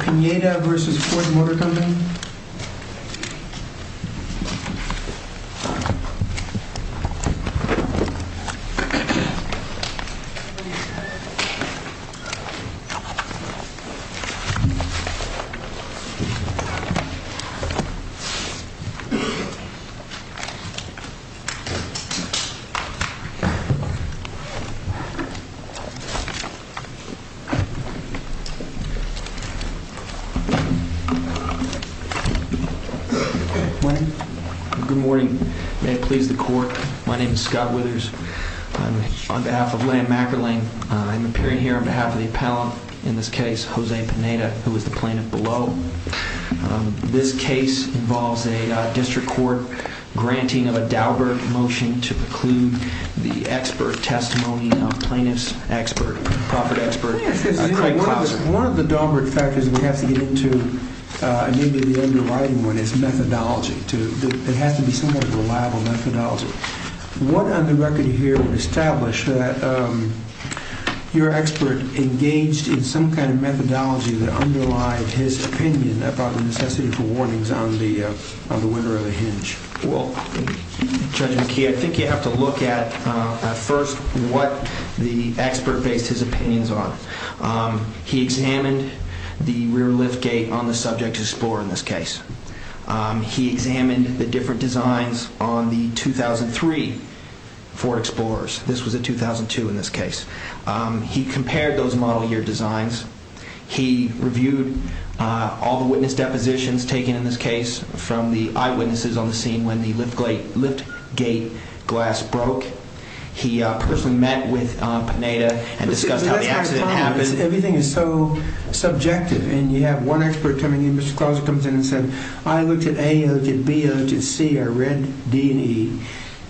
Pineda v. Ford Motor Company Good morning. May it please the court, my name is Scott Withers. I'm on behalf of Len Mackerling. I'm appearing here on behalf of the appellant in this case, Jose Pineda, who is a member of the board of the Appellant's Association. I'm here on behalf of the appellant in this case, Jose Pineda. I'm here on behalf of the appellant in this case, Jose Pineda. Well, Judge McKee, I think you have to look at first what the expert based his opinions on. He examined the rear liftgate on the subject explorer in this case. He examined the different designs on the 2003 Ford Explorers. This was a 2002 in this case. He compared those model year designs. He reviewed all the witness depositions taken in this case from the eyewitnesses on the scene when the liftgate glass broke. He personally met with Pineda and discussed how the accident happened. Everything is so subjective and you have one expert coming in, Mr. Clausen comes in and said, I looked at A, I looked at B, I looked at C, I read D and E.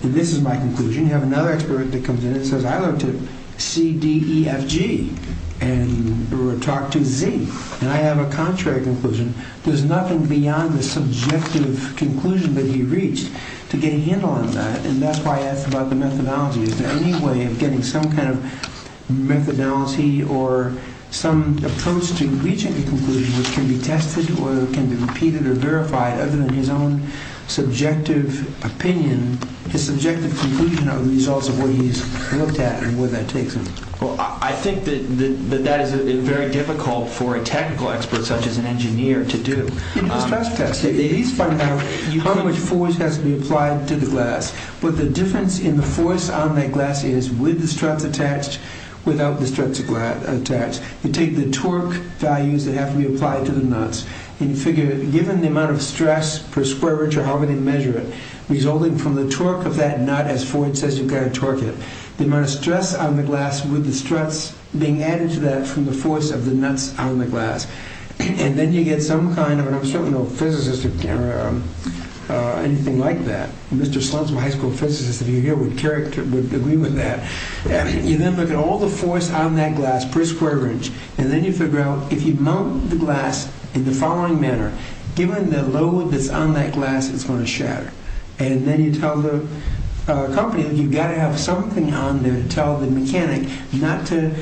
This is my conclusion. You have another expert that comes in and says, I looked at C, D, E, F, G and talked to Z and I have a contrary conclusion. There's nothing beyond the subjective conclusion that can be reached to get a handle on that. And that's why I asked about the methodology. Is there any way of getting some kind of methodology or some approach to reaching a conclusion which can be tested or can be repeated or verified other than his own subjective opinion, his subjective conclusion of the results of what he's looked at and where that takes him? Well, I think that that is very difficult for a technical expert such as an engineer to do. You do a stress test. You at least find out how much force has to be applied to the glass. What the difference in the force on that glass is with the struts attached, without the struts attached. You take the torque values that have to be applied to the nuts and you figure given the amount of stress per square inch or however they measure it, resulting from the torque of that nut as Ford says you've got to torque it, the amount of stress on the glass with the struts being added to that from the force of the nuts on the glass. And then you get some kind of, and I'm certain no physicist or anything like that, Mr. Slutsman high school physicist if you're here would agree with that. You then look at all the force on that glass per square inch and then you figure out if you mount the glass in the following manner, given the load that's on that glass it's going to shatter. And then you tell the company that you've got to have something on there to tell the mechanic not to,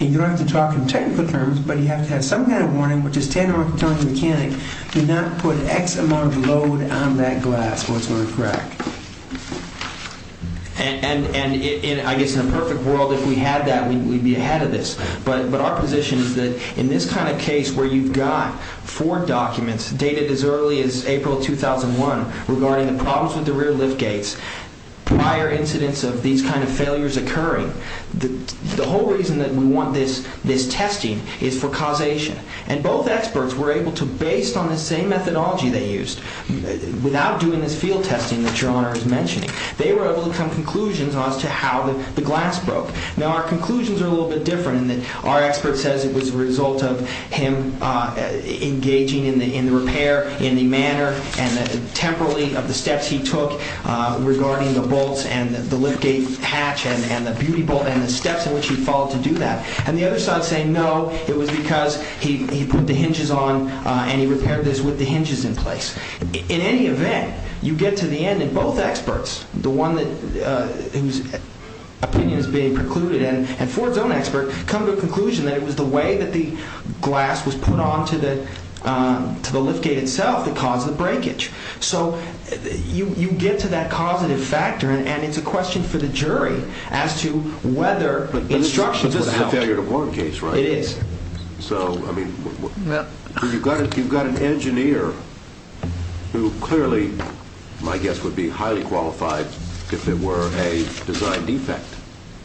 and you don't have to talk in technical terms, but you have to have some kind of warning which is telling the mechanic to not put X amount of load on that glass or it's going to crack. And I guess in a perfect world if we had that we'd be ahead of this. But our position is that in this kind of case where you've got four documents dated as early as April 2001 regarding the problems with the rear lift gates, prior incidents of these kind of failures occurring, the whole reason that we want this testing is for causation. And both experts were able to, based on the same methodology they used, without doing this field testing that Your Honor is mentioning, they were able to come to conclusions as to how the glass broke. Now our conclusions are a little bit different in that our expert says it was a result of him engaging in the repair in the manner and the temporally of the steps he followed to do that. And the other side is saying no, it was because he put the hinges on and he repaired this with the hinges in place. In any event, you get to the end and both experts, the one whose opinion is being precluded and Ford's own expert, come to a conclusion that it was the way that the glass was put on to the lift gate itself that caused the breakage. So you get to that causative factor and it's a question for the jury as to whether instructions was a help. But this is a failure to warn case, right? It is. So, I mean, you've got an engineer who clearly, my guess would be highly qualified if it were a design defect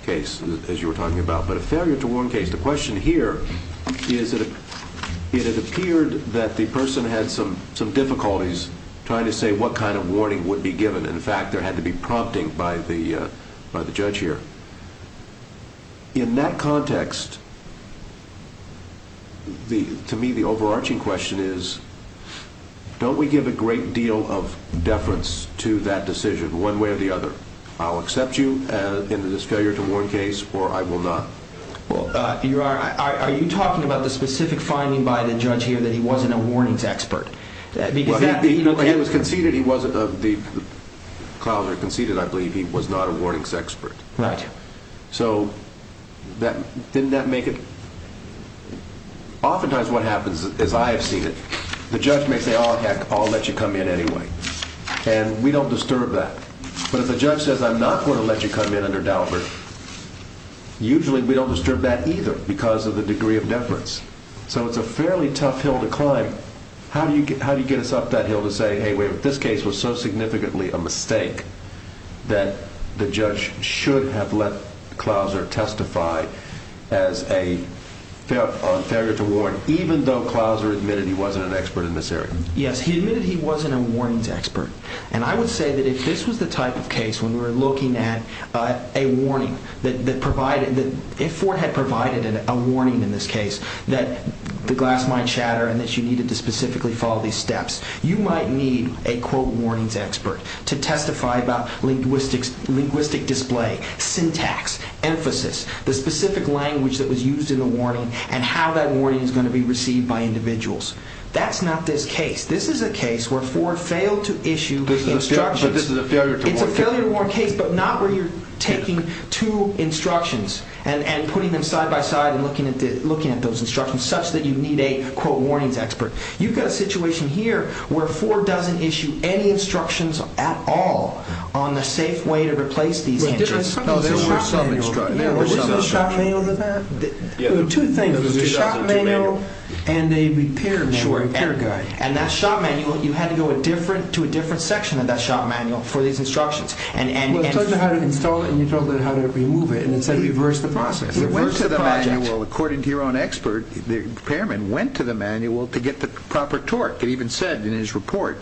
case, as you were talking about, but a failure to warn case. The question here is that it appeared that the person had some difficulties trying to say what kind of warning would be given. In fact, there had to be prompting by the judge here. In that context, to me, the overarching question is, don't we give a great deal of deference to that decision one way or the other? I'll accept you in this failure to warn case or I will not. Well, are you talking about the specific finding by the judge here that he wasn't a warnings expert? Well, he was conceded, he wasn't of the, Clouser conceded, I believe, he was not a warnings expert. Right. So, didn't that make it, oftentimes what happens, as I have seen it, the judge may say, oh, heck, I'll let you come in anyway. And we don't disturb that. But if the judge says, I'm not going to let you come in under Daubert, usually we don't disturb that either because of the degree of deference. So it's a fairly tough hill to climb. How do you get us up that hill to say, hey, wait a minute, this case was so significantly a mistake that the judge should have let Clouser testify as a failure to warn, even though Clouser admitted he wasn't an expert in this area? Yes, he admitted he wasn't a warnings expert. And I would say that if this was the type of case when we were looking at a warning that provided, if Ford had provided a warning in this case that the glass might shatter and that you needed to specifically follow these steps, you might need a, quote, warnings expert to testify about linguistic display, syntax, emphasis, the specific language that was used in the warning and how that warning is going to be received by individuals. That's not this case. This is a case where Ford failed But this is a failure to warn. It's a failure to warn case, but not where you're taking two instructions and putting them side by side and looking at those instructions such that you need a, quote, warnings expert. You've got a situation here where Ford doesn't issue any instructions at all on the safe way to replace these hinges. There were some instructions. There was a shop manual for that. There were two things, a shop manual and a repair manual. And that shop manual, you had to go to a different section of that shop manual for these instructions Well, it told you how to install it and you told it how to remove it and it said reverse the process. According to your own expert, the repairman went to the manual to get the proper torque. It even said in his report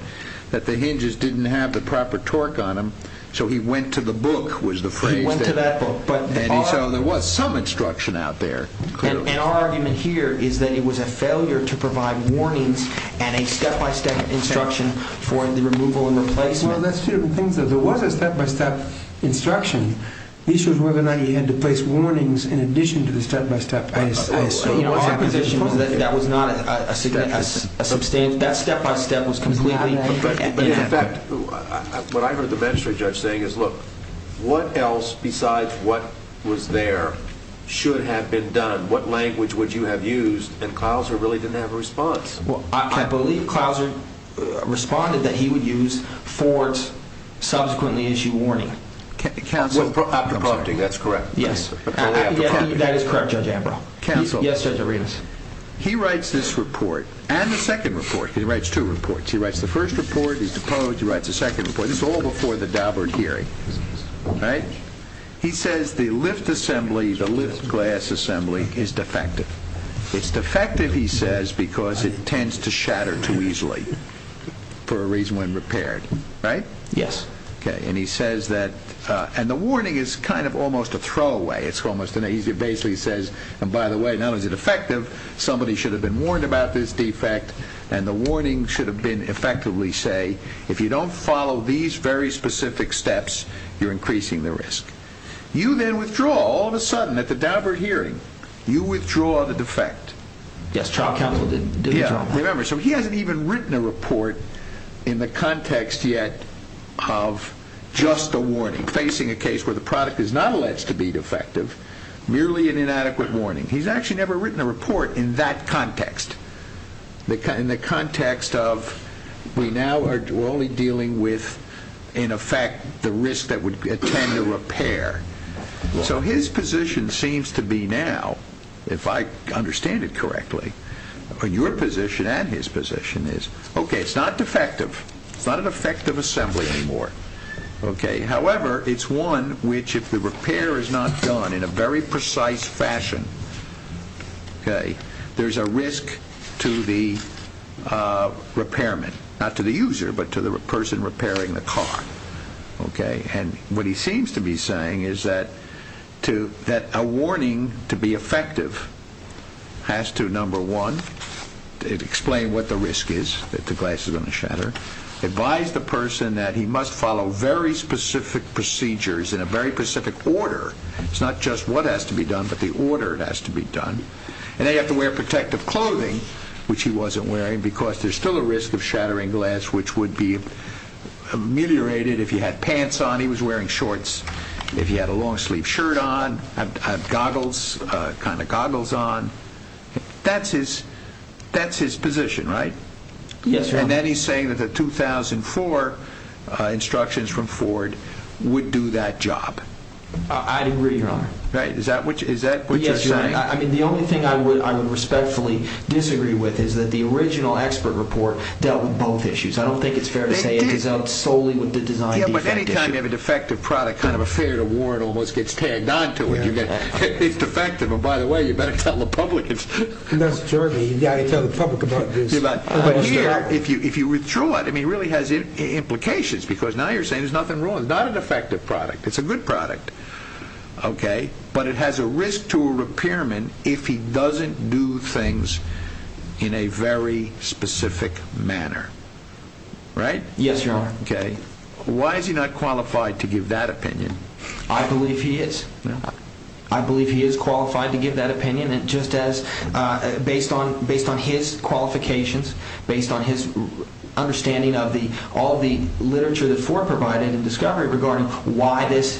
that the hinges didn't have the proper torque on them, so he went to the book was the phrase. He went to that book. And so there was some instruction out there. And our argument here is that it was a failure to provide warnings and a step-by-step instruction for the removal and replacement. Well, that's two different things. There was a step-by-step instruction. He showed whether or not he had to place warnings in addition to the step-by-step. Our position was that that was not a substantial, that step-by-step was completely inadequate. In fact, what I heard the magistrate judge saying is, look, what else besides what was there should have been done? What language would you have used? And Clouser really didn't have a response. Well, I believe Clouser responded that he would use Ford's subsequently issued warning. After prompting, that's correct. Yes. After prompting. That is correct, Judge Ambrose. Counsel. Yes, Judge Arenas. He writes this report and the second report. He writes two reports. He writes the first report. He's deposed. He writes the second report. This is all before the Daubert hearing. Right? He says the lift assembly, the lift glass assembly, is defective. It's defective, he says, because it tends to shatter too easily for a reason when repaired. Right? Yes. Okay. And he says that, and the warning is kind of almost a throwaway. He basically says, and by the way, not only is it effective, somebody should have been warned about this defect, and the warning should have been effectively say, if you don't follow these very specific steps, you're increasing the risk. You then withdraw. All of a sudden, at the Daubert hearing, you withdraw the defect. Yes, trial counsel did withdraw that. Remember, so he hasn't even written a report in the context yet of just a warning, facing a case where the product is not alleged to be defective, merely an inadequate warning. He's actually never written a report in that context, in the context of we now are only dealing with, in effect, the risk that would attend a repair. So his position seems to be now, if I understand it correctly, your position and his position is, okay, it's not defective. It's not an effective assembly anymore. However, it's one which, if the repair is not done in a very precise fashion, there's a risk to the repairman, not to the user, but to the person repairing the car. Okay? And what he seems to be saying is that a warning, to be effective, has to, number one, explain what the risk is, that the glass is going to shatter, advise the person that he must follow very specific procedures in a very specific order. It's not just what has to be done, but the order it has to be done. And then you have to wear protective clothing, which he wasn't wearing, because there's still a risk of shattering glass, which would be ameliorated if he had pants on, he was wearing shorts, if he had a long-sleeved shirt on, goggles, kind of goggles on. That's his position, right? Yes, Your Honor. And then he's saying that the 2004 instructions from Ford would do that job. I agree, Your Honor. Right. Is that what you're saying? I mean, the only thing I would respectfully disagree with is that the original expert report dealt with both issues. I don't think it's fair to say it dealt solely with the design defect issue. Yeah, but any time you have a defective product, kind of a fair to warn almost gets tagged onto it. It's defective. And by the way, you better tell the public. That's jerky. You've got to tell the public about this. But here, if you withdraw it, I mean, it really has implications, because now you're saying there's nothing wrong. It's not a defective product. It's a good product. Okay? But it has a risk to a repairman if he doesn't do things in a very specific manner. Right? Yes, Your Honor. Okay. Why is he not qualified to give that opinion? I believe he is. I believe he is qualified to give that opinion, just as, based on his qualifications, based on his understanding of all the literature that Ford provided in Discovery regarding why this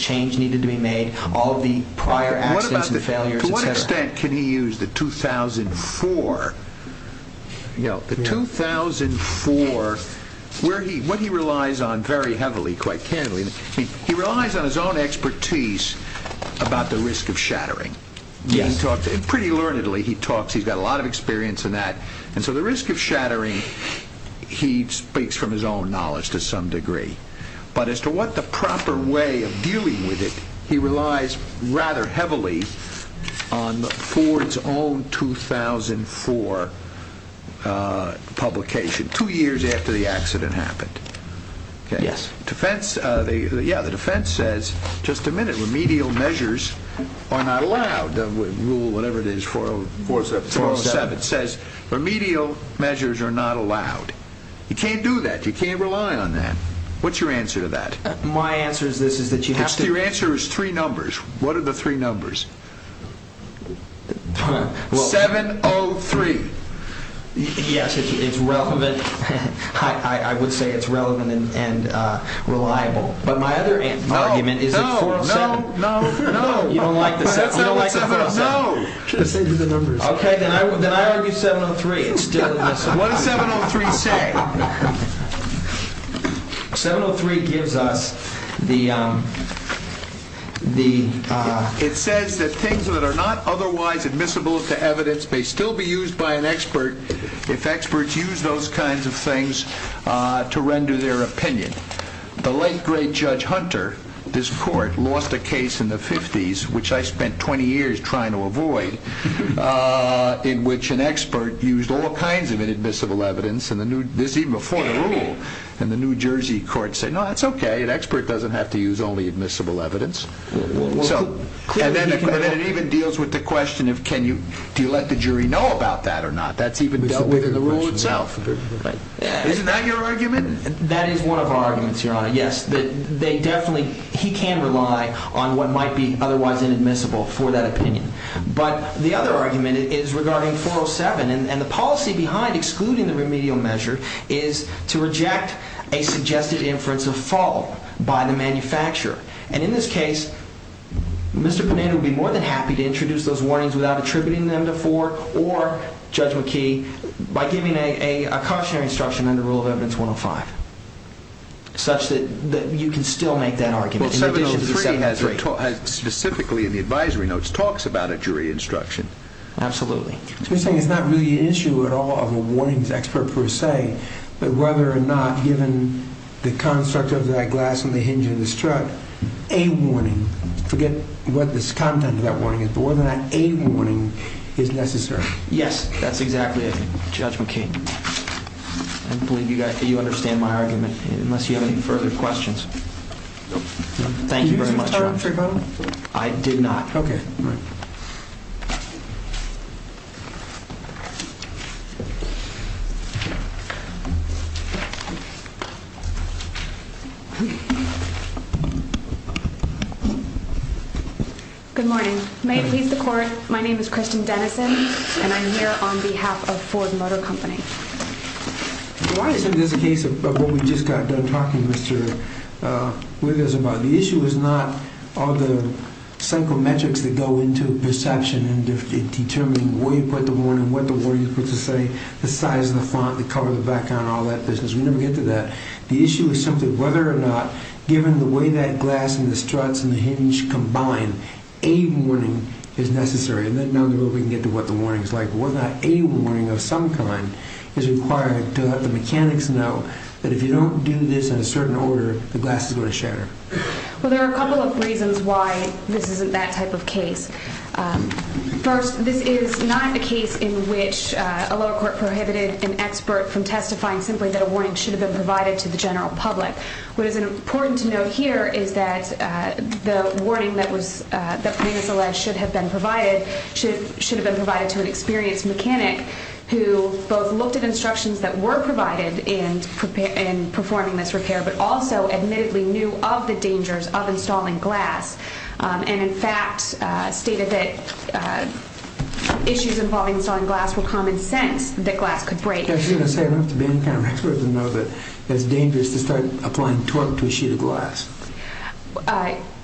change needed to be made, all the prior accidents and failures, et cetera. To what extent can he use the 2004? You know, the 2004, what he relies on very heavily, quite candidly, he relies on his own expertise about the risk of shattering. Yes. And pretty learnedly, he talks, he's got a lot of experience in that. And so the risk of shattering, he speaks from his own knowledge to some degree. But as to what the proper way of dealing with it, he relies rather heavily on Ford's own 2004 publication, two years after the accident happened. Okay? Yes. Defense, yeah, the defense says, just a minute, remedial measures are not allowed. Rule, whatever it is, 407. It says remedial measures are not allowed. You can't do that. You can't rely on that. What's your answer to that? My answer to this is that you have to... Your answer is three numbers. What are the three numbers? 703. Yes, it's relevant. I would say it's relevant and reliable. But my other argument is that 407... No, no, no, no. You don't like the 407? No. Okay, then I argue 703. What does 703 say? 703 gives us the... It says that things that are not otherwise admissible to evidence may still be used by an expert if experts use those kinds of things to render their opinion. The late, great Judge Hunter, this court, lost a case in the 50s, which I spent 20 years trying to avoid, in which an expert used all kinds of inadmissible evidence, even before the rule. And the New Jersey court said, no, that's okay. An expert doesn't have to use only admissible evidence. And then it even deals with the question of can you let the jury know about that or not. That's even dealt with in the rule itself. Isn't that your argument? That is one of our arguments, Your Honor, yes. He can rely on what might be otherwise inadmissible for that opinion. But the other argument is regarding 407, and the policy behind excluding the remedial measure is to reject a suggested inference of fault by the manufacturer. And in this case, Mr. Panetta would be more than happy to introduce those warnings without attributing them to Ford or Judge McKee by giving a cautionary instruction under Rule of Evidence 105 such that you can still make that argument in addition to 703. 703 specifically in the advisory notes talks about a jury instruction. Absolutely. So you're saying it's not really an issue at all of a warnings expert per se, but whether or not, given the construct of that glass on the hinge of this truck, a warning, forget what the content of that warning is, but whether or not a warning is necessary. Yes, that's exactly it, Judge McKee. I believe you understand my argument, unless you have any further questions. Thank you very much, Your Honor. I did not. Okay. Good morning. May it please the Court, my name is Kristen Dennison, and I'm here on behalf of Ford Motor Company. Why isn't this a case of what we just got done talking, Mr. Withers, about? The issue is not all the psychometrics that go into perception in determining where you put the warning, what the warning is supposed to say, the size of the font, the color of the background, all that business. We never get to that. The issue is simply whether or not, given the way that glass and the struts and the hinge combine, a warning is necessary. And then down the road we can get to what the warning is like. Whether or not a warning of some kind is required to let the mechanics know that if you don't do this in a certain order, the glass is going to shatter. Well, there are a couple of reasons why this isn't that type of case. First, this is not a case in which a lower court prohibited an expert from testifying simply that a warning should have been provided to the general public. What is important to note here is that the warning that was, that previously alleged should have been provided, should have been provided to an experienced mechanic who both looked at instructions that were provided in performing this repair but also admittedly knew of the dangers of installing glass and, in fact, stated that issues involving installing glass were common sense, that glass could break. I'm just going to say I don't have to be any kind of expert to know that it's dangerous to start applying torque to a sheet of glass.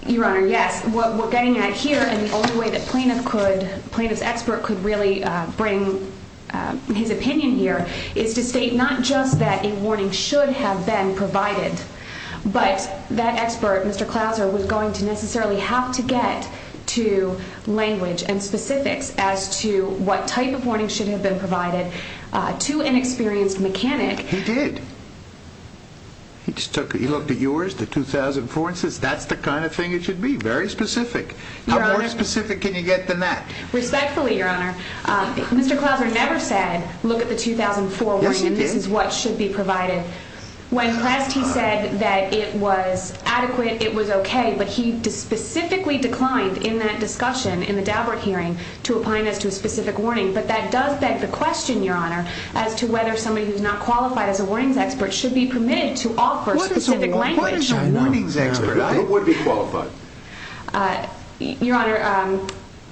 Your Honor, yes. What we're getting at here and the only way that plaintiff could, plaintiff's expert could really bring his opinion here is to state not just that a warning should have been provided but that expert, Mr. Clauser, was going to necessarily have to get to language and specifics as to what type of warning should have been provided to an experienced mechanic. He did. He just took, he looked at yours, the 2004, and says that's the kind of thing it should be, very specific. How more specific can you get than that? Respectfully, Your Honor, Mr. Clauser never said, look at the 2004 warning, this is what should be provided. When pressed, he said that it was adequate, it was okay, but he specifically declined in that discussion in the Daubert hearing to apply this to a specific warning. But that does beg the question, Your Honor, as to whether somebody who's not qualified as a warnings expert should be permitted to offer specific language. What is a warnings expert? Who would be qualified? Your Honor,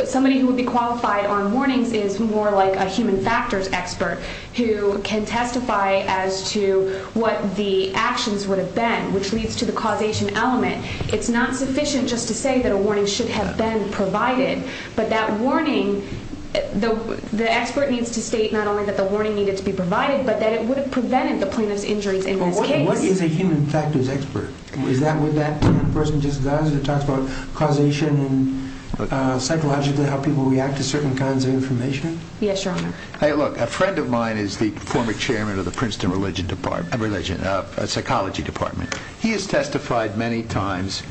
somebody who would be qualified on warnings is more like a human factors expert who can testify as to what the actions would have been, which leads to the causation element. It's not sufficient just to say that a warning should have been provided, but that warning, the expert needs to state not only that the warning needed to be provided, but that it would have prevented the plaintiff's injuries in this case. What is a human factors expert? Is that what that person just does? It talks about causation and psychologically how people react to certain kinds of information? Yes, Your Honor. Look, a friend of mine is the former chairman of the Princeton Psychology Department. He has testified many times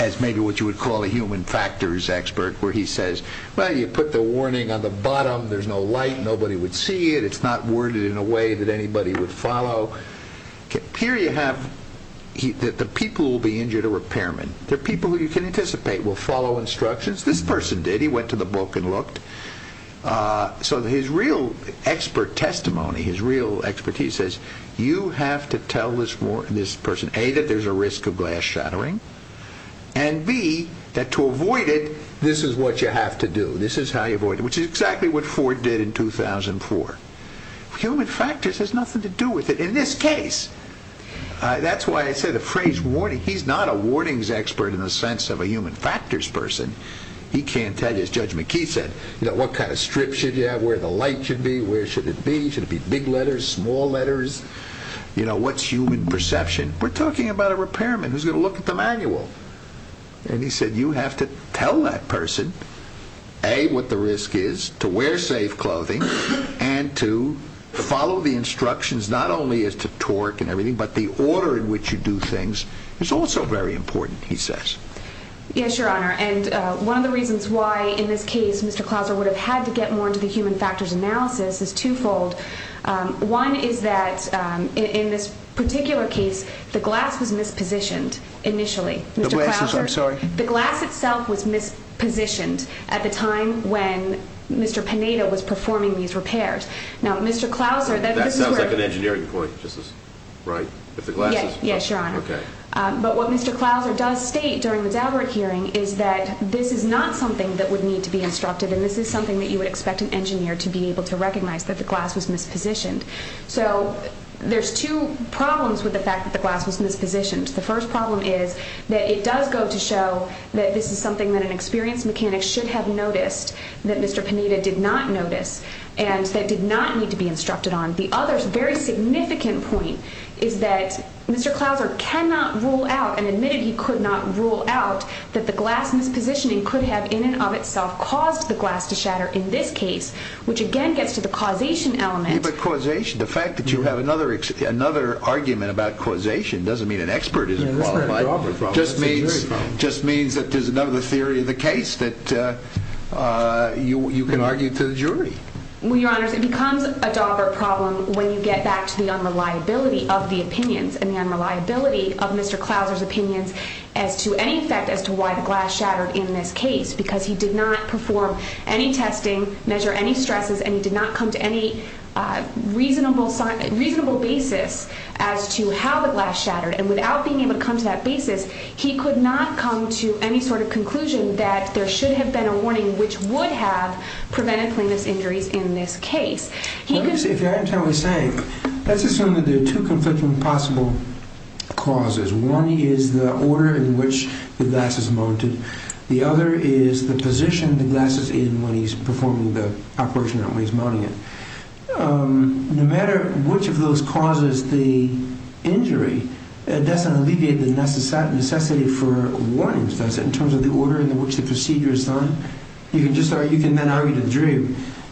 as maybe what you would call a human factors expert, where he says, well, you put the warning on the bottom, there's no light, nobody would see it, it's not worded in a way that anybody would follow. Here you have that the people who will be injured are repairmen. They're people who you can anticipate will follow instructions. This person did. He went to the book and looked. So his real expert testimony, his real expertise says, you have to tell this person, A, that there's a risk of glass shattering, and B, that to avoid it, this is what you have to do. This is how you avoid it, which is exactly what Ford did in 2004. Human factors has nothing to do with it in this case. That's why I said the phrase warning. He's not a warnings expert in the sense of a human factors person. He can't tell you. As Judge McKee said, what kind of strips should you have? Where the light should be? Where should it be? Should it be big letters, small letters? What's human perception? We're talking about a repairman who's going to look at the manual. And he said you have to tell that person, A, what the risk is to wear safe clothing and to follow the instructions not only as to torque and everything, but the order in which you do things is also very important, he says. Yes, Your Honor, and one of the reasons why, in this case, Mr. Clauser would have had to get more into the human factors analysis is twofold. One is that, in this particular case, the glass was mispositioned initially. The glasses, I'm sorry? The glass itself was mispositioned at the time when Mr. Panetta was performing these repairs. Now, Mr. Clauser, this is where... That sounds like an engineering point. Right, if the glass is... Yes, Your Honor. Okay. But what Mr. Clauser does state during the Daubert hearing is that this is not something that would need to be instructed, and this is something that you would expect an engineer to be able to recognize, that the glass was mispositioned. So there's two problems with the fact that the glass was mispositioned. The first problem is that it does go to show that this is something that an experienced mechanic should have noticed that Mr. Panetta did not notice and that did not need to be instructed on. The other very significant point is that Mr. Clauser cannot rule out, and admitted he could not rule out, that the glass mispositioning could have in and of itself caused the glass to shatter in this case, which again gets to the causation element. But causation, the fact that you have another argument about causation doesn't mean an expert isn't qualified. It just means that there's another theory of the case that you can argue to the jury. Well, Your Honors, it becomes a Daubert problem when you get back to the unreliability of the opinions and the unreliability of Mr. Clauser's opinions as to any effect as to why the glass shattered in this case because he did not perform any testing, measure any stresses, and he did not come to any reasonable basis as to how the glass shattered. And without being able to come to that basis, he could not come to any sort of conclusion that there should have been a warning which would have prevented cleanness injuries in this case. Let's assume that there are two conflicting possible causes. One is the order in which the glass is mounted. The other is the position the glass is in when he's performing the operation and when he's mounting it. No matter which of those causes the injury, that doesn't alleviate the necessity for warnings, does it, in terms of the order in which the procedure is done? You can then argue to the jury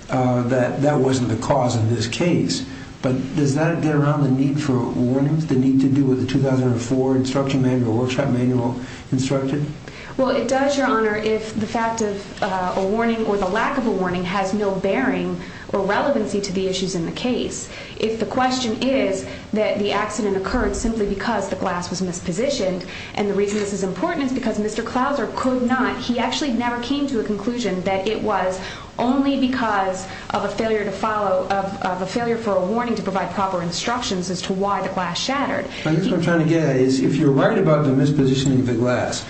that that wasn't the cause in this case, but does that get around the need for warnings, the need to do with the 2004 instruction manual, workshop manual instructed? Well, it does, Your Honor, if the fact of a warning or the lack of a warning has no bearing or relevancy to the issues in the case. If the question is that the accident occurred simply because the glass was mispositioned and the reason this is important is because Mr. Clauser could not, he actually never came to a conclusion that it was only because of a failure to follow, of a failure for a warning to provide proper instructions as to why the glass shattered. I guess what I'm trying to get at is if you're right about the mispositioning of the glass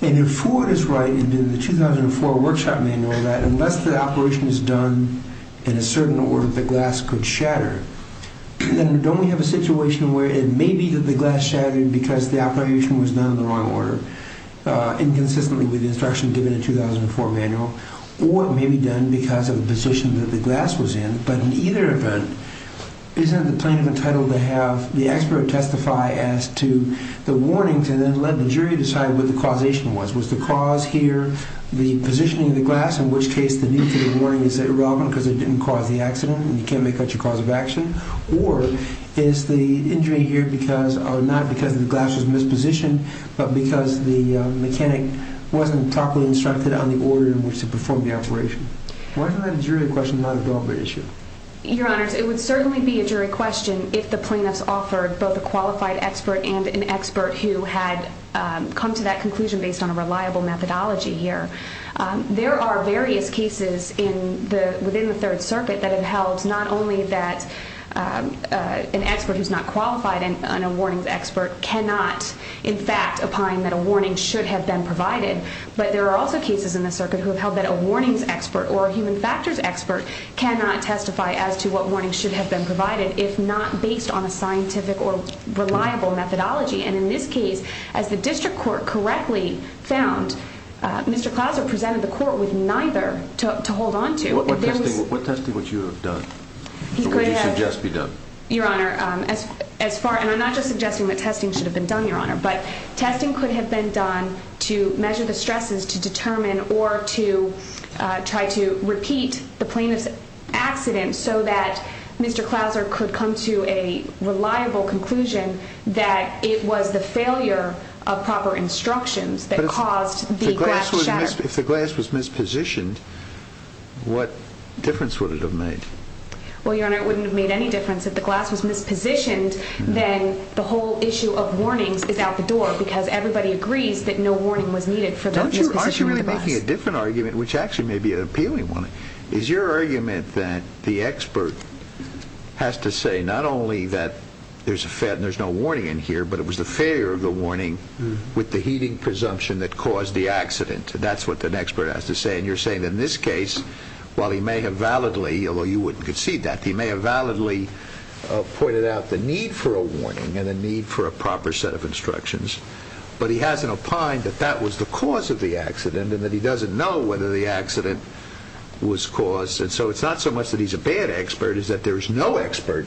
and if Ford is right in the 2004 workshop manual that unless the operation is done in a certain order, the glass could shatter, then don't we have a situation where it may be that the glass shattered because the operation was done in the wrong order, inconsistently with the instruction given in the 2004 manual, or it may be done because of the position that the glass was in, but in either event, isn't it the plaintiff entitled to have the expert testify as to the warning to then let the jury decide what the causation was? Was the cause here the positioning of the glass, in which case the need for the warning is irrelevant because it didn't cause the accident and you can't make that your cause of action, or is the injury here not because the glass was mispositioned, but because the mechanic wasn't properly instructed on the order in which to perform the operation? Why isn't that a jury question, not a deliberate issue? Your Honor, it would certainly be a jury question if the plaintiffs offered both a qualified expert and an expert who had come to that conclusion based on a reliable methodology here. There are various cases within the Third Circuit that have held not only that an expert who's not qualified and a warnings expert cannot, in fact, opine that a warning should have been provided, but there are also cases in the circuit who have held that a warnings expert or a human factors expert cannot testify as to what warning should have been provided if not based on a scientific or reliable methodology. And in this case, as the district court correctly found, Mr. Clauser presented the court with neither to hold on to. What testing would you have done? What would you suggest be done? Your Honor, as far... And I'm not just suggesting that testing should have been done, Your Honor, but testing could have been done to measure the stresses to determine or to try to repeat the plaintiff's accident so that Mr. Clauser could come to a reliable conclusion that it was the failure of proper instructions that caused the glass to shatter. If the glass was mispositioned, what difference would it have made? Well, Your Honor, it wouldn't have made any difference. If the glass was mispositioned, then the whole issue of warnings is out the door because everybody agrees that no warning was needed for the glass. Aren't you really making a different argument, which actually may be an appealing one? Is your argument that the expert has to say not only that there's no warning in here, but it was the failure of the warning with the heating presumption that caused the accident? That's what an expert has to say, and you're saying in this case, while he may have validly, although you wouldn't concede that, he may have validly pointed out the need for a warning and the need for a proper set of instructions, but he hasn't opined that that was the cause of the accident and that he doesn't know whether the accident was caused. And so it's not so much that he's a bad expert as that there's no expert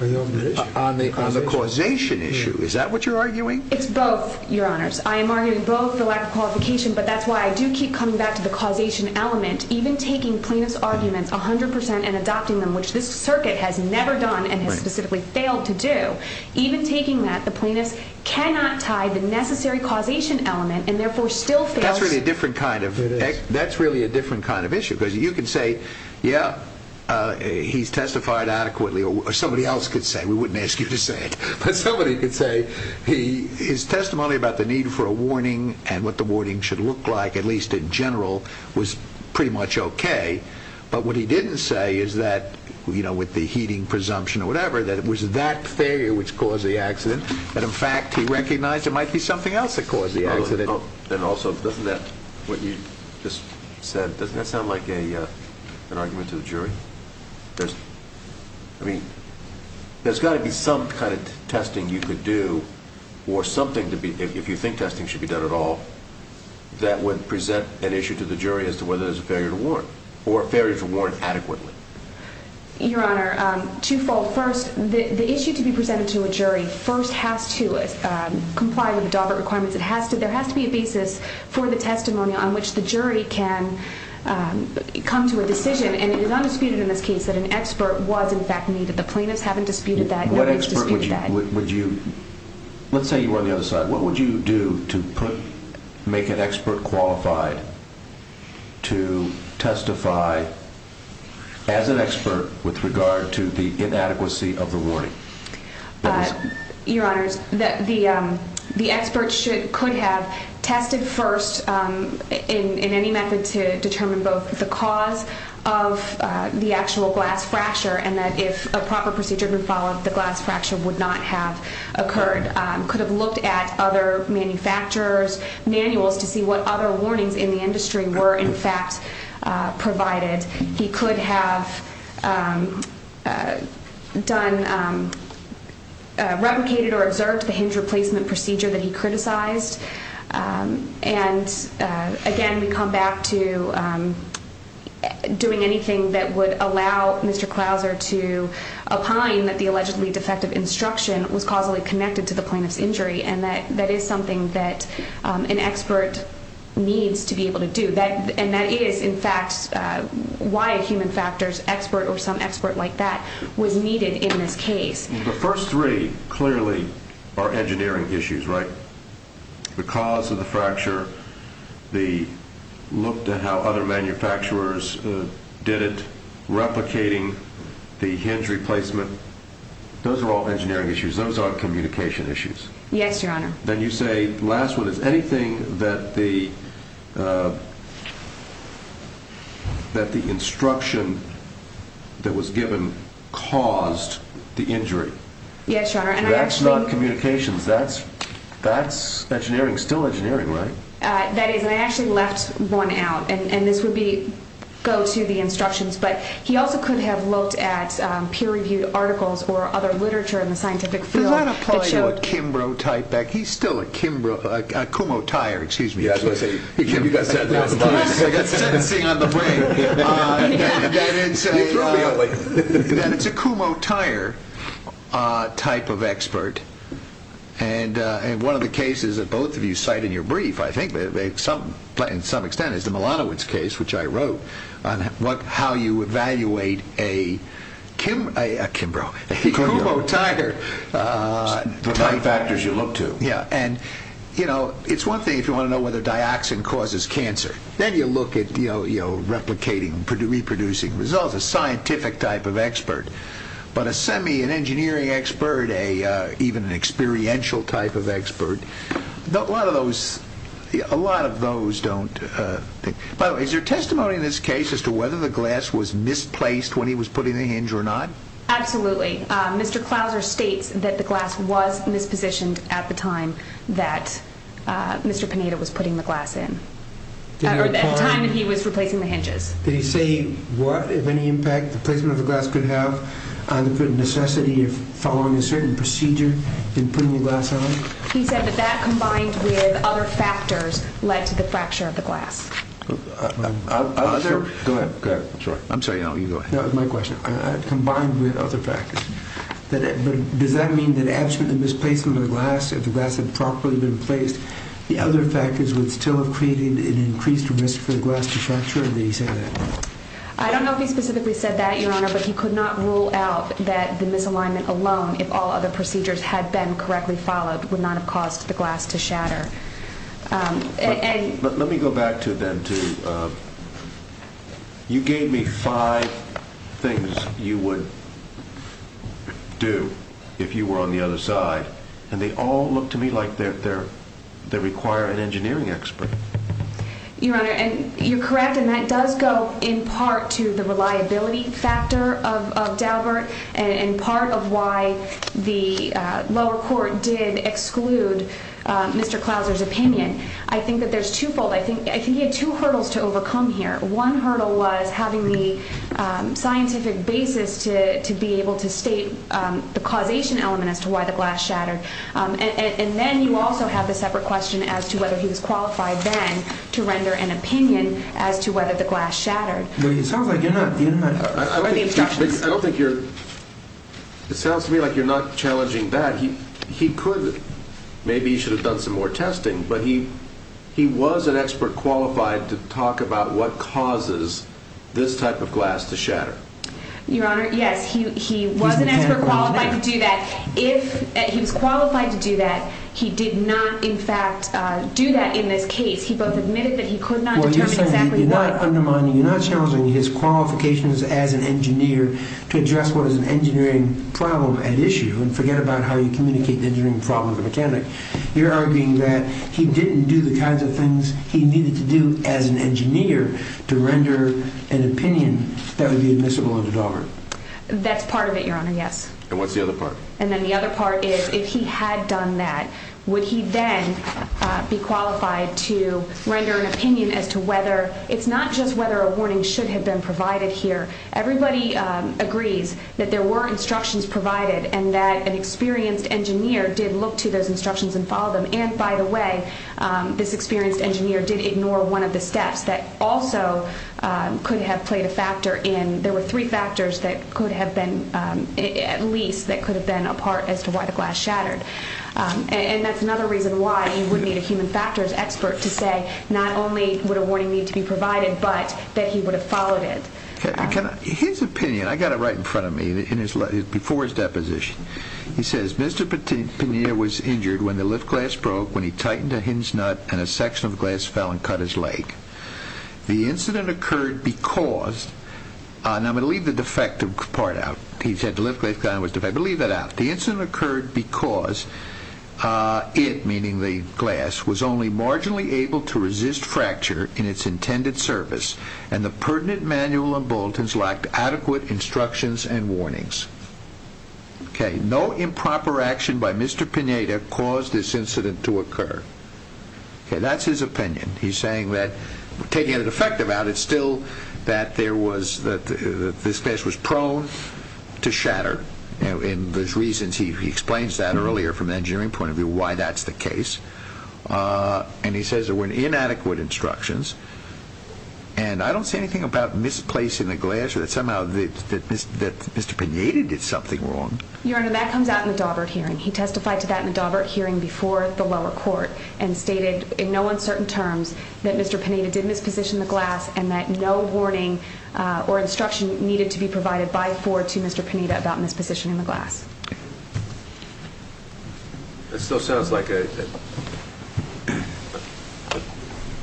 on the causation issue. Is that what you're arguing? It's both, Your Honors. I am arguing both for lack of qualification, but that's why I do keep coming back to the causation element. Even taking plaintiff's arguments 100% and adopting them, which this circuit has never done and has specifically failed to do, even taking that, the plaintiff cannot tie the necessary causation element and therefore still fails. That's really a different kind of issue because you could say, yeah, he's testified adequately, or somebody else could say. We wouldn't ask you to say it. But somebody could say his testimony about the need for a warning and what the warning should look like, at least in general, was pretty much okay. But what he didn't say is that, you know, with the heating presumption or whatever, that it was that failure which caused the accident, that, in fact, he recognized there might be something else that caused the accident. And also, doesn't that, what you just said, doesn't that sound like an argument to the jury? I mean, there's got to be some kind of testing you could do or something, if you think testing should be done at all, that would present an issue to the jury as to whether there's a failure to warn or a failure to warn adequately. Your Honor, twofold. First, the issue to be presented to a jury first has to comply with the Daubert requirements. There has to be a basis for the testimony on which the jury can come to a decision. And it is undisputed in this case that an expert was, in fact, needed. The plaintiffs haven't disputed that. What expert would you, let's say you were on the other side, what would you do to make an expert qualified to testify as an expert with regard to the inadequacy of the warning? Your Honor, the expert could have tested first in any method to determine both the cause of the actual glass fracture and that if a proper procedure had been followed, the glass fracture would not have occurred. He could have looked at other manufacturers' manuals to see what other warnings in the industry were, in fact, provided. He could have replicated or observed the hinge replacement procedure that he criticized. And, again, we come back to doing anything that would allow Mr. Clouser to opine that the allegedly defective instruction was causally connected to the plaintiff's injury. And that is something that an expert needs to be able to do. And that is, in fact, why a human factors expert or some expert like that was needed in this case. The first three clearly are engineering issues, right? The cause of the fracture, the look to how other manufacturers did it, replicating the hinge replacement, those are all engineering issues. Those aren't communication issues. Yes, Your Honor. Then you say the last one is anything that the instruction that was given caused the injury. Yes, Your Honor. That's not communications. That's engineering. Still engineering, right? That is. And I actually left one out. And this would go to the instructions. But he also could have looked at peer-reviewed articles or other literature in the scientific field. Does that apply to a Kimbrough type expert? He's still a Kimbrough, a Kumho-Tyre, excuse me. You've got sentencing on the brain. That is a Kumho-Tyre type of expert. And one of the cases that both of you cite in your brief, I think, in some extent, is the Milanovic case, which I wrote, on how you evaluate a Kimbrough, a Kumho-Tyre by the factors you look to. Yes. And, you know, it's one thing if you want to know whether dioxin causes cancer. Then you look at replicating, reproducing results, a scientific type of expert. But a semi-engineering expert, even an experiential type of expert, a lot of those don't. By the way, is there testimony in this case as to whether the glass was misplaced when he was putting the hinge or not? Absolutely. Mr. Clouser states that the glass was mispositioned at the time that Mr. Panetta was putting the glass in. At the time that he was replacing the hinges. Did he say what, if any, impact the placement of the glass could have on the necessity of following a certain procedure in putting the glass on? He said that that, combined with other factors, led to the fracture of the glass. Go ahead. I'm sorry. I'm sorry. You go ahead. That was my question. Combined with other factors. But does that mean that after the misplacement of the glass, if the glass had properly been placed, the other factors would still have created an increased risk for the glass to fracture? Or did he say that? I don't know if he specifically said that, Your Honor. But he could not rule out that the misalignment alone, if all other procedures had been correctly followed, would not have caused the glass to shatter. Let me go back to then. You gave me five things you would do if you were on the other side, and they all look to me like they require an engineering expert. Your Honor, you're correct, and that does go in part to the reliability factor of Daubert and part of why the lower court did exclude Mr. Clauser's opinion. I think that there's twofold. I think he had two hurdles to overcome here. One hurdle was having the scientific basis to be able to state the causation element as to why the glass shattered. And then you also have the separate question as to whether he was qualified then to render an opinion as to whether the glass shattered. It sounds like you're not challenging that. He could. Maybe he should have done some more testing. But he was an expert qualified to talk about what causes this type of glass to shatter. Your Honor, yes, he was an expert qualified to do that. If he was qualified to do that, he did not, in fact, do that in this case. He both admitted that he could not determine exactly why. You're not undermining, you're not challenging his qualifications as an engineer to address what is an engineering problem at issue and forget about how you communicate an engineering problem with a mechanic. You're arguing that he didn't do the kinds of things he needed to do as an engineer to render an opinion that would be admissible under Daubert. That's part of it, Your Honor, yes. And what's the other part? And then the other part is if he had done that, would he then be qualified to render an opinion as to whether, it's not just whether a warning should have been provided here. Everybody agrees that there were instructions provided and that an experienced engineer did look to those instructions and follow them. And, by the way, this experienced engineer did ignore one of the steps that also could have played a factor in, there were three factors that could have been, at least, that could have been a part as to why the glass shattered. And that's another reason why you would need a human factors expert to say not only would a warning need to be provided, but that he would have followed it. His opinion, I got it right in front of me, before his deposition. He says, Mr. Pena was injured when the lift glass broke when he tightened a hinge nut and a section of glass fell and cut his leg. The incident occurred because, and I'm going to leave the defective part out. He said the lift glass was defective. I'm going to leave that out. The incident occurred because it, meaning the glass, was only marginally able to resist fracture in its intended service and the pertinent manual and boltings lacked adequate instructions and warnings. Okay, no improper action by Mr. Pena to cause this incident to occur. Okay, that's his opinion. He's saying that taking a defective out, it's still that there was, that this glass was prone to shatter. And there's reasons, he explains that earlier from an engineering point of view, why that's the case. And he says there were inadequate instructions. And I don't see anything about misplacing the glass or that somehow that Mr. Pena did something wrong. Your Honor, that comes out in the Daubert hearing. He testified to that in the Daubert hearing before the lower court and stated in no uncertain terms that Mr. Pena did misposition the glass and that no warning or instruction needed to be provided by, for, to Mr. Pena about mispositioning the glass. It still sounds like a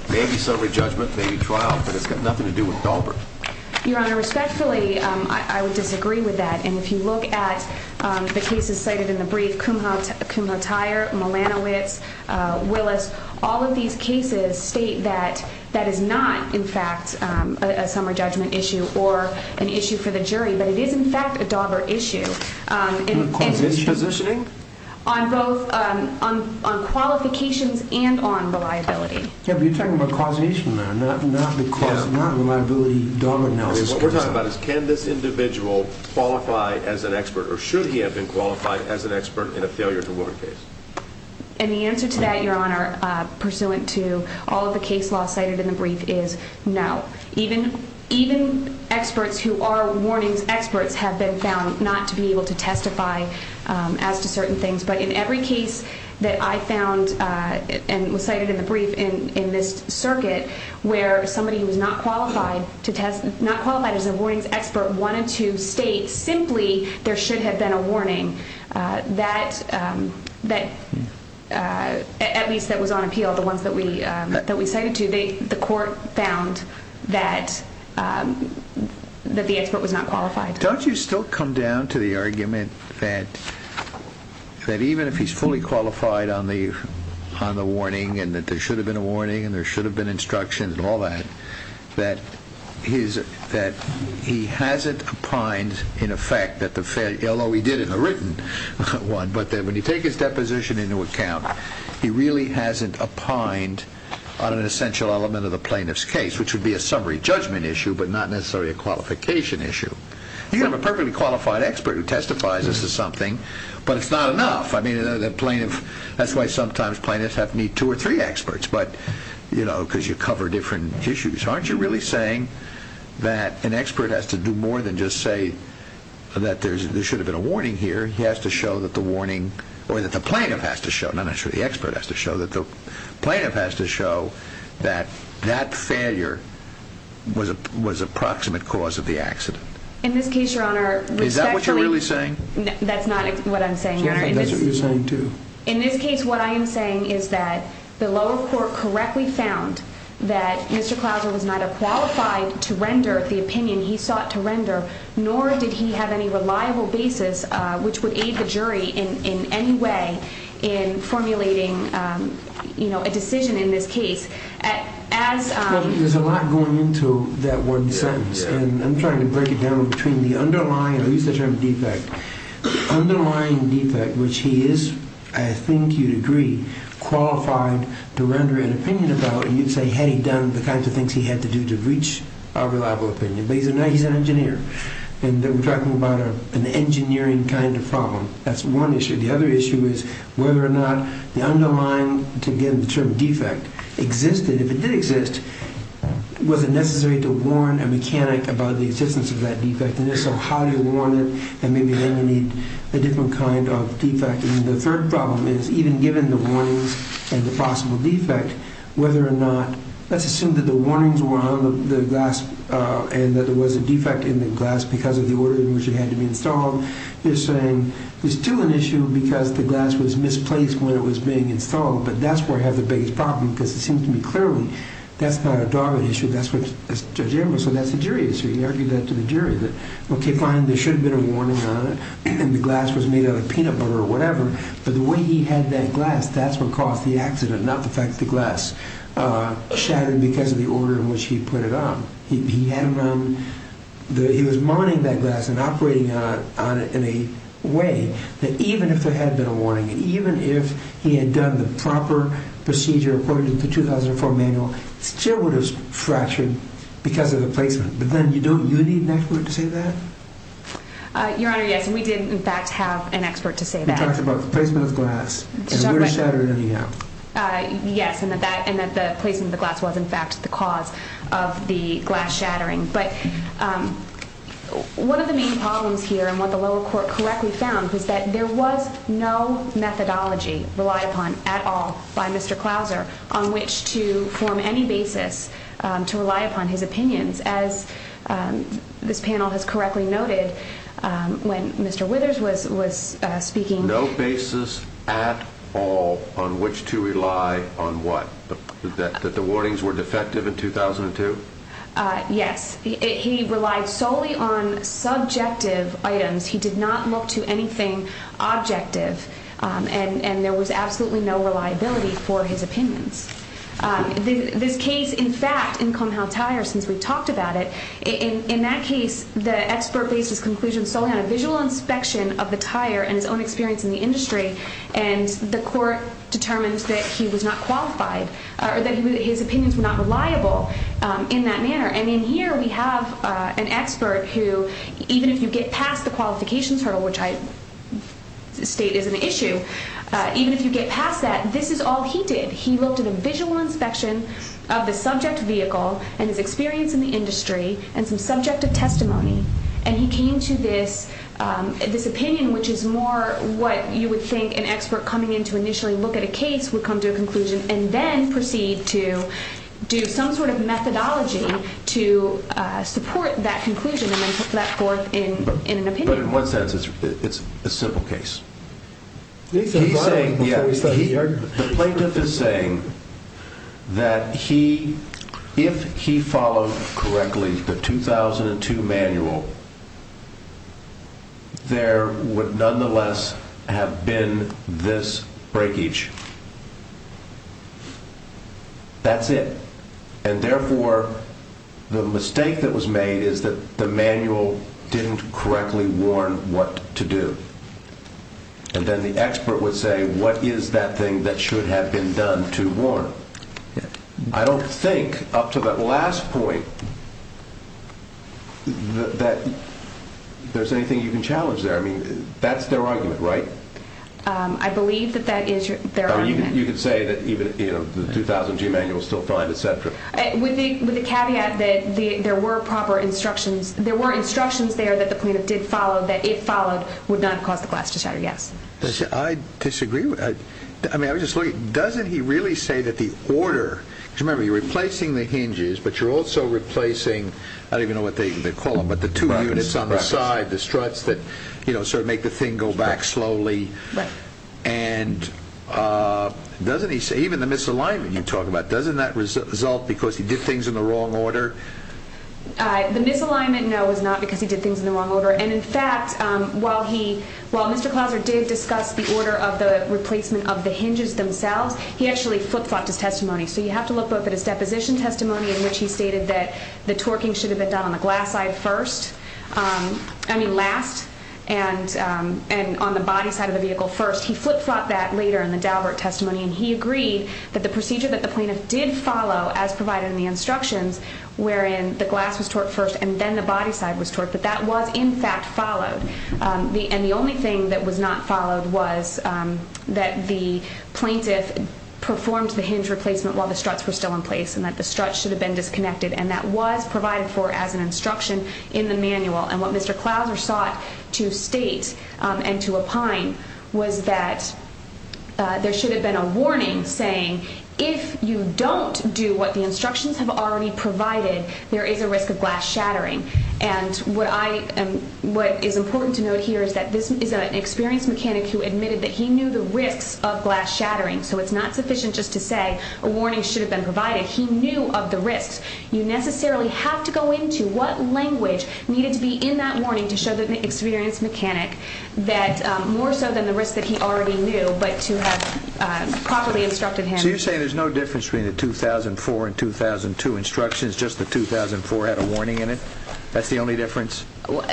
maybe summary judgment, maybe trial, but it's got nothing to do with Daubert. Your Honor, respectfully, I would disagree with that. And if you look at the cases cited in the brief, Kumho Tyer, Molanowicz, Willis, all of these cases state that that is not, in fact, a summary judgment issue or an issue for the jury. But it is, in fact, a Daubert issue. On both, on qualifications and on reliability. Yeah, but you're talking about causation there, not reliability, Daubert analysis. What we're talking about is can this individual qualify as an expert or should he have been qualified as an expert in a failure-to-work case? And the answer to that, Your Honor, pursuant to all of the case law cited in the brief, is no. Even experts who are warnings experts have been found not to be able to testify as to certain things. But in every case that I found and was cited in the brief in this circuit where somebody who was not qualified as a warnings expert wanted to state simply there should have been a warning, at least that was on appeal, the ones that we cited to, the court found that the expert was not qualified. Don't you still come down to the argument that even if he's fully qualified on the warning and that there should have been a warning and there should have been instructions and all that, that he hasn't opined in effect that the failure, although he did in the written one, but when you take his deposition into account, he really hasn't opined on an essential element of the plaintiff's case, which would be a summary judgment issue but not necessarily a qualification issue. You have a perfectly qualified expert who testifies as to something, but it's not enough. That's why sometimes plaintiffs have to meet two or three experts because you cover different issues. Aren't you really saying that an expert has to do more than just say that there should have been a warning here? He has to show that the warning, or that the plaintiff has to show, not necessarily the expert has to show, that the plaintiff has to show that that failure was a proximate cause of the accident? In this case, Your Honor, which actually... Is that what you're really saying? That's not what I'm saying, Your Honor. That's what you're saying, too. In this case, what I am saying is that the lower court correctly found that Mr. Clauser was not qualified to render the opinion he sought to render, nor did he have any reliable basis which would aid the jury in any way in formulating a decision in this case. There's a lot going into that one sentence, and I'm trying to break it down between the underlying... I'll use the term defect. The underlying defect, which he is, I think you'd agree, qualified to render an opinion about, and you'd say, had he done the kinds of things he had to do to reach a reliable opinion, but he's an engineer, and we're talking about an engineering kind of problem. That's one issue. The other issue is whether or not the underlying, again, the term defect existed. If it did exist, was it necessary to warn a mechanic about the existence of that defect? How do you warn it? Maybe then you need a different kind of defect. The third problem is, even given the warnings and the possible defect, whether or not... Let's assume that the warnings were on the glass and that there was a defect in the glass because of the order in which it had to be installed. You're saying there's still an issue because the glass was misplaced when it was being installed, but that's where I have the biggest problem because it seems to me clearly that's not a Darwin issue. That's what Judge Emery said. That's a jury issue. He argued that to the jury that, okay, fine, there should have been a warning on it, and the glass was made out of peanut butter or whatever, but the way he had that glass, that's what caused the accident, not the fact that the glass shattered because of the order in which he put it on. He was mining that glass and operating on it in a way that even if there had been a warning, even if he had done the proper procedure according to the 2004 manual, it still would have fractured because of the placement. But then don't you need an expert to say that? Your Honor, yes, and we did, in fact, have an expert to say that. You talked about the placement of the glass and where it shattered in the end. Yes, and that the placement of the glass was, in fact, the cause of the glass shattering. But one of the main problems here and what the lower court correctly found was that there was no methodology relied upon at all by Mr. Clouser on which to form any basis to rely upon his opinions, as this panel has correctly noted when Mr. Withers was speaking. No basis at all on which to rely on what? That the warnings were defective in 2002? Yes. He relied solely on subjective items. He did not look to anything objective, and there was absolutely no reliability for his opinions. This case, in fact, in Kumho Tire, since we've talked about it, in that case, the expert based his conclusion solely on a visual inspection of the tire and his own experience in the industry, and the court determined that he was not qualified or that his opinions were not reliable in that manner. And in here we have an expert who, even if you get past the qualifications hurdle, which I state is an issue, even if you get past that, this is all he did. He looked at a visual inspection of the subject vehicle and his experience in the industry and some subjective testimony, and he came to this opinion, which is more what you would think an expert coming in to initially look at a case would come to a conclusion, and then proceed to do some sort of methodology to support that conclusion and then put that forth in an opinion. But in what sense? It's a simple case. He's saying, yeah, the plaintiff is saying that if he followed correctly the 2002 manual, there would nonetheless have been this breakage. That's it. And therefore, the mistake that was made is that the manual didn't correctly warn what to do. And then the expert would say, what is that thing that should have been done to warn? I don't think up to that last point that there's anything you can challenge there. I mean, that's their argument, right? I believe that that is their argument. You could say that even the 2002 manual is still fine, et cetera. With the caveat that there were instructions there that the plaintiff did follow, that if followed would not have caused the glass to shatter, yes. I disagree. I mean, I was just looking. Doesn't he really say that the order, because remember, you're replacing the hinges, but you're also replacing, I don't even know what they call them, but the two units on the side, the struts that sort of make the thing go back slowly. Right. And doesn't he say, even the misalignment you talk about, doesn't that result because he did things in the wrong order? The misalignment, no, is not because he did things in the wrong order. And, in fact, while Mr. Clauser did discuss the order of the replacement of the hinges themselves, he actually flip-flopped his testimony. So you have to look both at his deposition testimony, in which he stated that the torquing should have been done on the glass side first, I mean last, and on the body side of the vehicle first. He flip-flopped that later in the Daubert testimony, and he agreed that the procedure that the plaintiff did follow, as provided in the instructions, wherein the glass was torqued first and then the body side was torqued, that that was, in fact, followed. And the only thing that was not followed was that the plaintiff performed the hinge replacement while the struts were still in place and that the struts should have been disconnected, and that was provided for as an instruction in the manual. And what Mr. Clauser sought to state and to opine was that there should have been a warning saying, if you don't do what the instructions have already provided, there is a risk of glass shattering. And what is important to note here is that this is an experienced mechanic who admitted that he knew the risks of glass shattering, so it's not sufficient just to say a warning should have been provided. He knew of the risks. You necessarily have to go into what language needed to be in that warning to show the experienced mechanic that more so than the risk that he already knew, but to have properly instructed him. So you're saying there's no difference between the 2004 and 2002 instructions, just the 2004 had a warning in it? That's the only difference?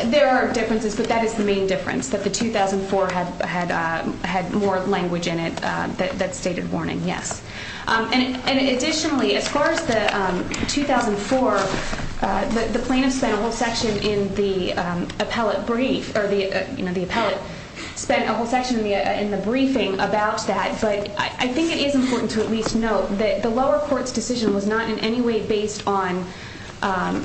There are differences, but that is the main difference, that the 2004 had more language in it that stated warning, yes. And additionally, as far as the 2004, the plaintiff spent a whole section in the appellate brief, or the appellate spent a whole section in the briefing about that, but I think it is important to at least note that the lower court's decision was not in any way based on the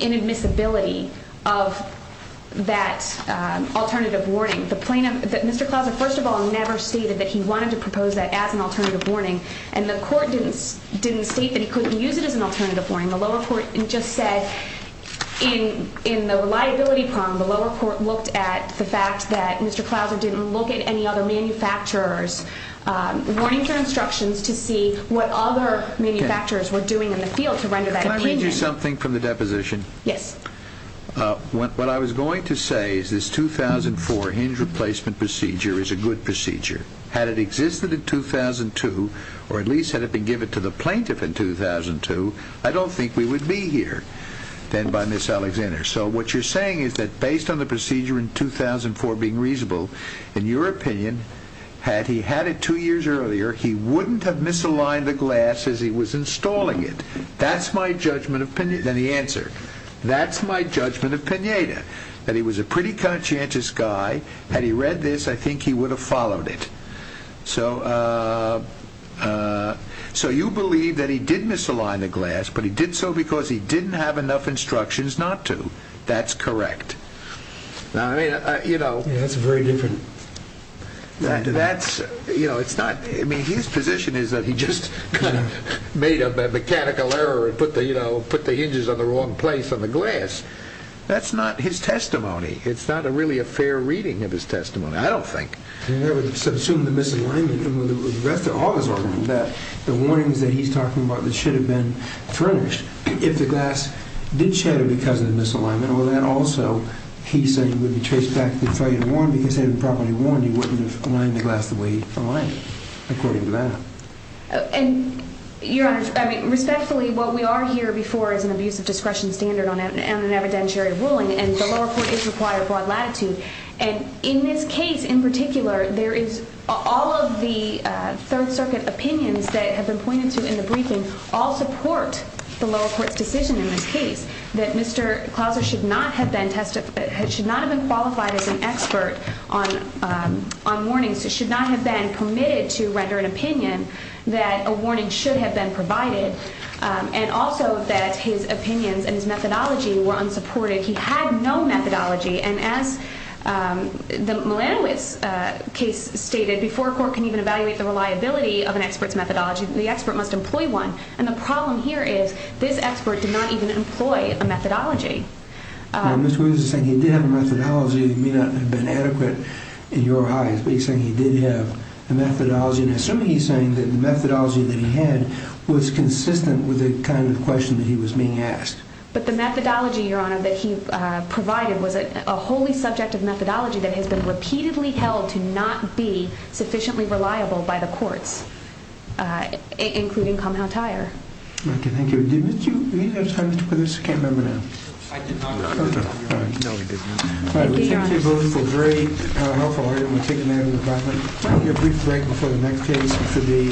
inadmissibility of that alternative warning. Mr. Clouser first of all never stated that he wanted to propose that as an alternative warning, and the court didn't state that he couldn't use it as an alternative warning. The lower court just said in the reliability problem, the lower court looked at the fact that Mr. Clouser didn't look at any other manufacturers' warnings and used their instructions to see what other manufacturers were doing in the field to render that opinion. Can I read you something from the deposition? Yes. What I was going to say is this 2004 hinge replacement procedure is a good procedure. Had it existed in 2002, or at least had it been given to the plaintiff in 2002, I don't think we would be here then by Ms. Alexander. So what you're saying is that based on the procedure in 2004 being reasonable, in your opinion, had he had it two years earlier, he wouldn't have misaligned the glass as he was installing it. That's my judgment of Pineda. That he was a pretty conscientious guy. Had he read this, I think he would have followed it. So you believe that he did misalign the glass, but he did so because he didn't have enough instructions not to. That's correct. That's a very different thing to that. His position is that he just made a mechanical error and put the hinges in the wrong place on the glass. That's not his testimony. It's not really a fair reading of his testimony, I don't think. He never subsumed the misalignment. All this argument that the warnings that he's talking about that should have been furnished, if the glass did shatter because of the misalignment, or that also he said he would be traced back to the failure to warn because had he properly warned, he wouldn't have aligned the glass the way he aligned it, according to that. Your Honor, respectfully, what we are here before is an abuse of discretion standard on an evidentiary ruling, and the lower court is required broad latitude. In this case, in particular, all of the Third Circuit opinions that have been pointed to in the briefing all support the lower court's decision in this case that Mr. Clauser should not have been qualified as an expert on warnings, should not have been permitted to render an opinion that a warning should have been provided, and also that his opinions and his methodology were unsupported. He had no methodology, and as the Milanovic case stated, before a court can even evaluate the reliability of an expert's methodology, the expert must employ one, and the problem here is this expert did not even employ a methodology. Now, Mr. Williams is saying he did have a methodology that may not have been adequate in your eyes, but he's saying he did have a methodology, and assuming he's saying that the methodology that he had was consistent with the kind of question that he was being asked. But the methodology, Your Honor, that he provided was a wholly subjective methodology that has been repeatedly held to not be sufficiently reliable by the courts. Including Kalmau Tire. Okay, thank you. Did you have time for this? I can't remember now. I did not, Your Honor. No, he didn't. Thank you, Your Honor. All right, we thank you both for a very helpful argument. We'll take a minute of your time. We'll have a brief break before the next case for the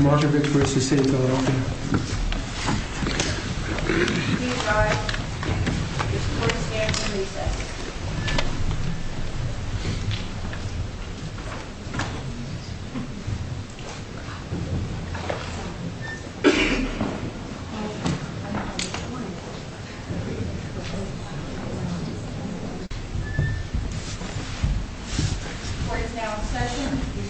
Markovits v. State of Philadelphia. Please rise. The court stands in recess. The court is now in session.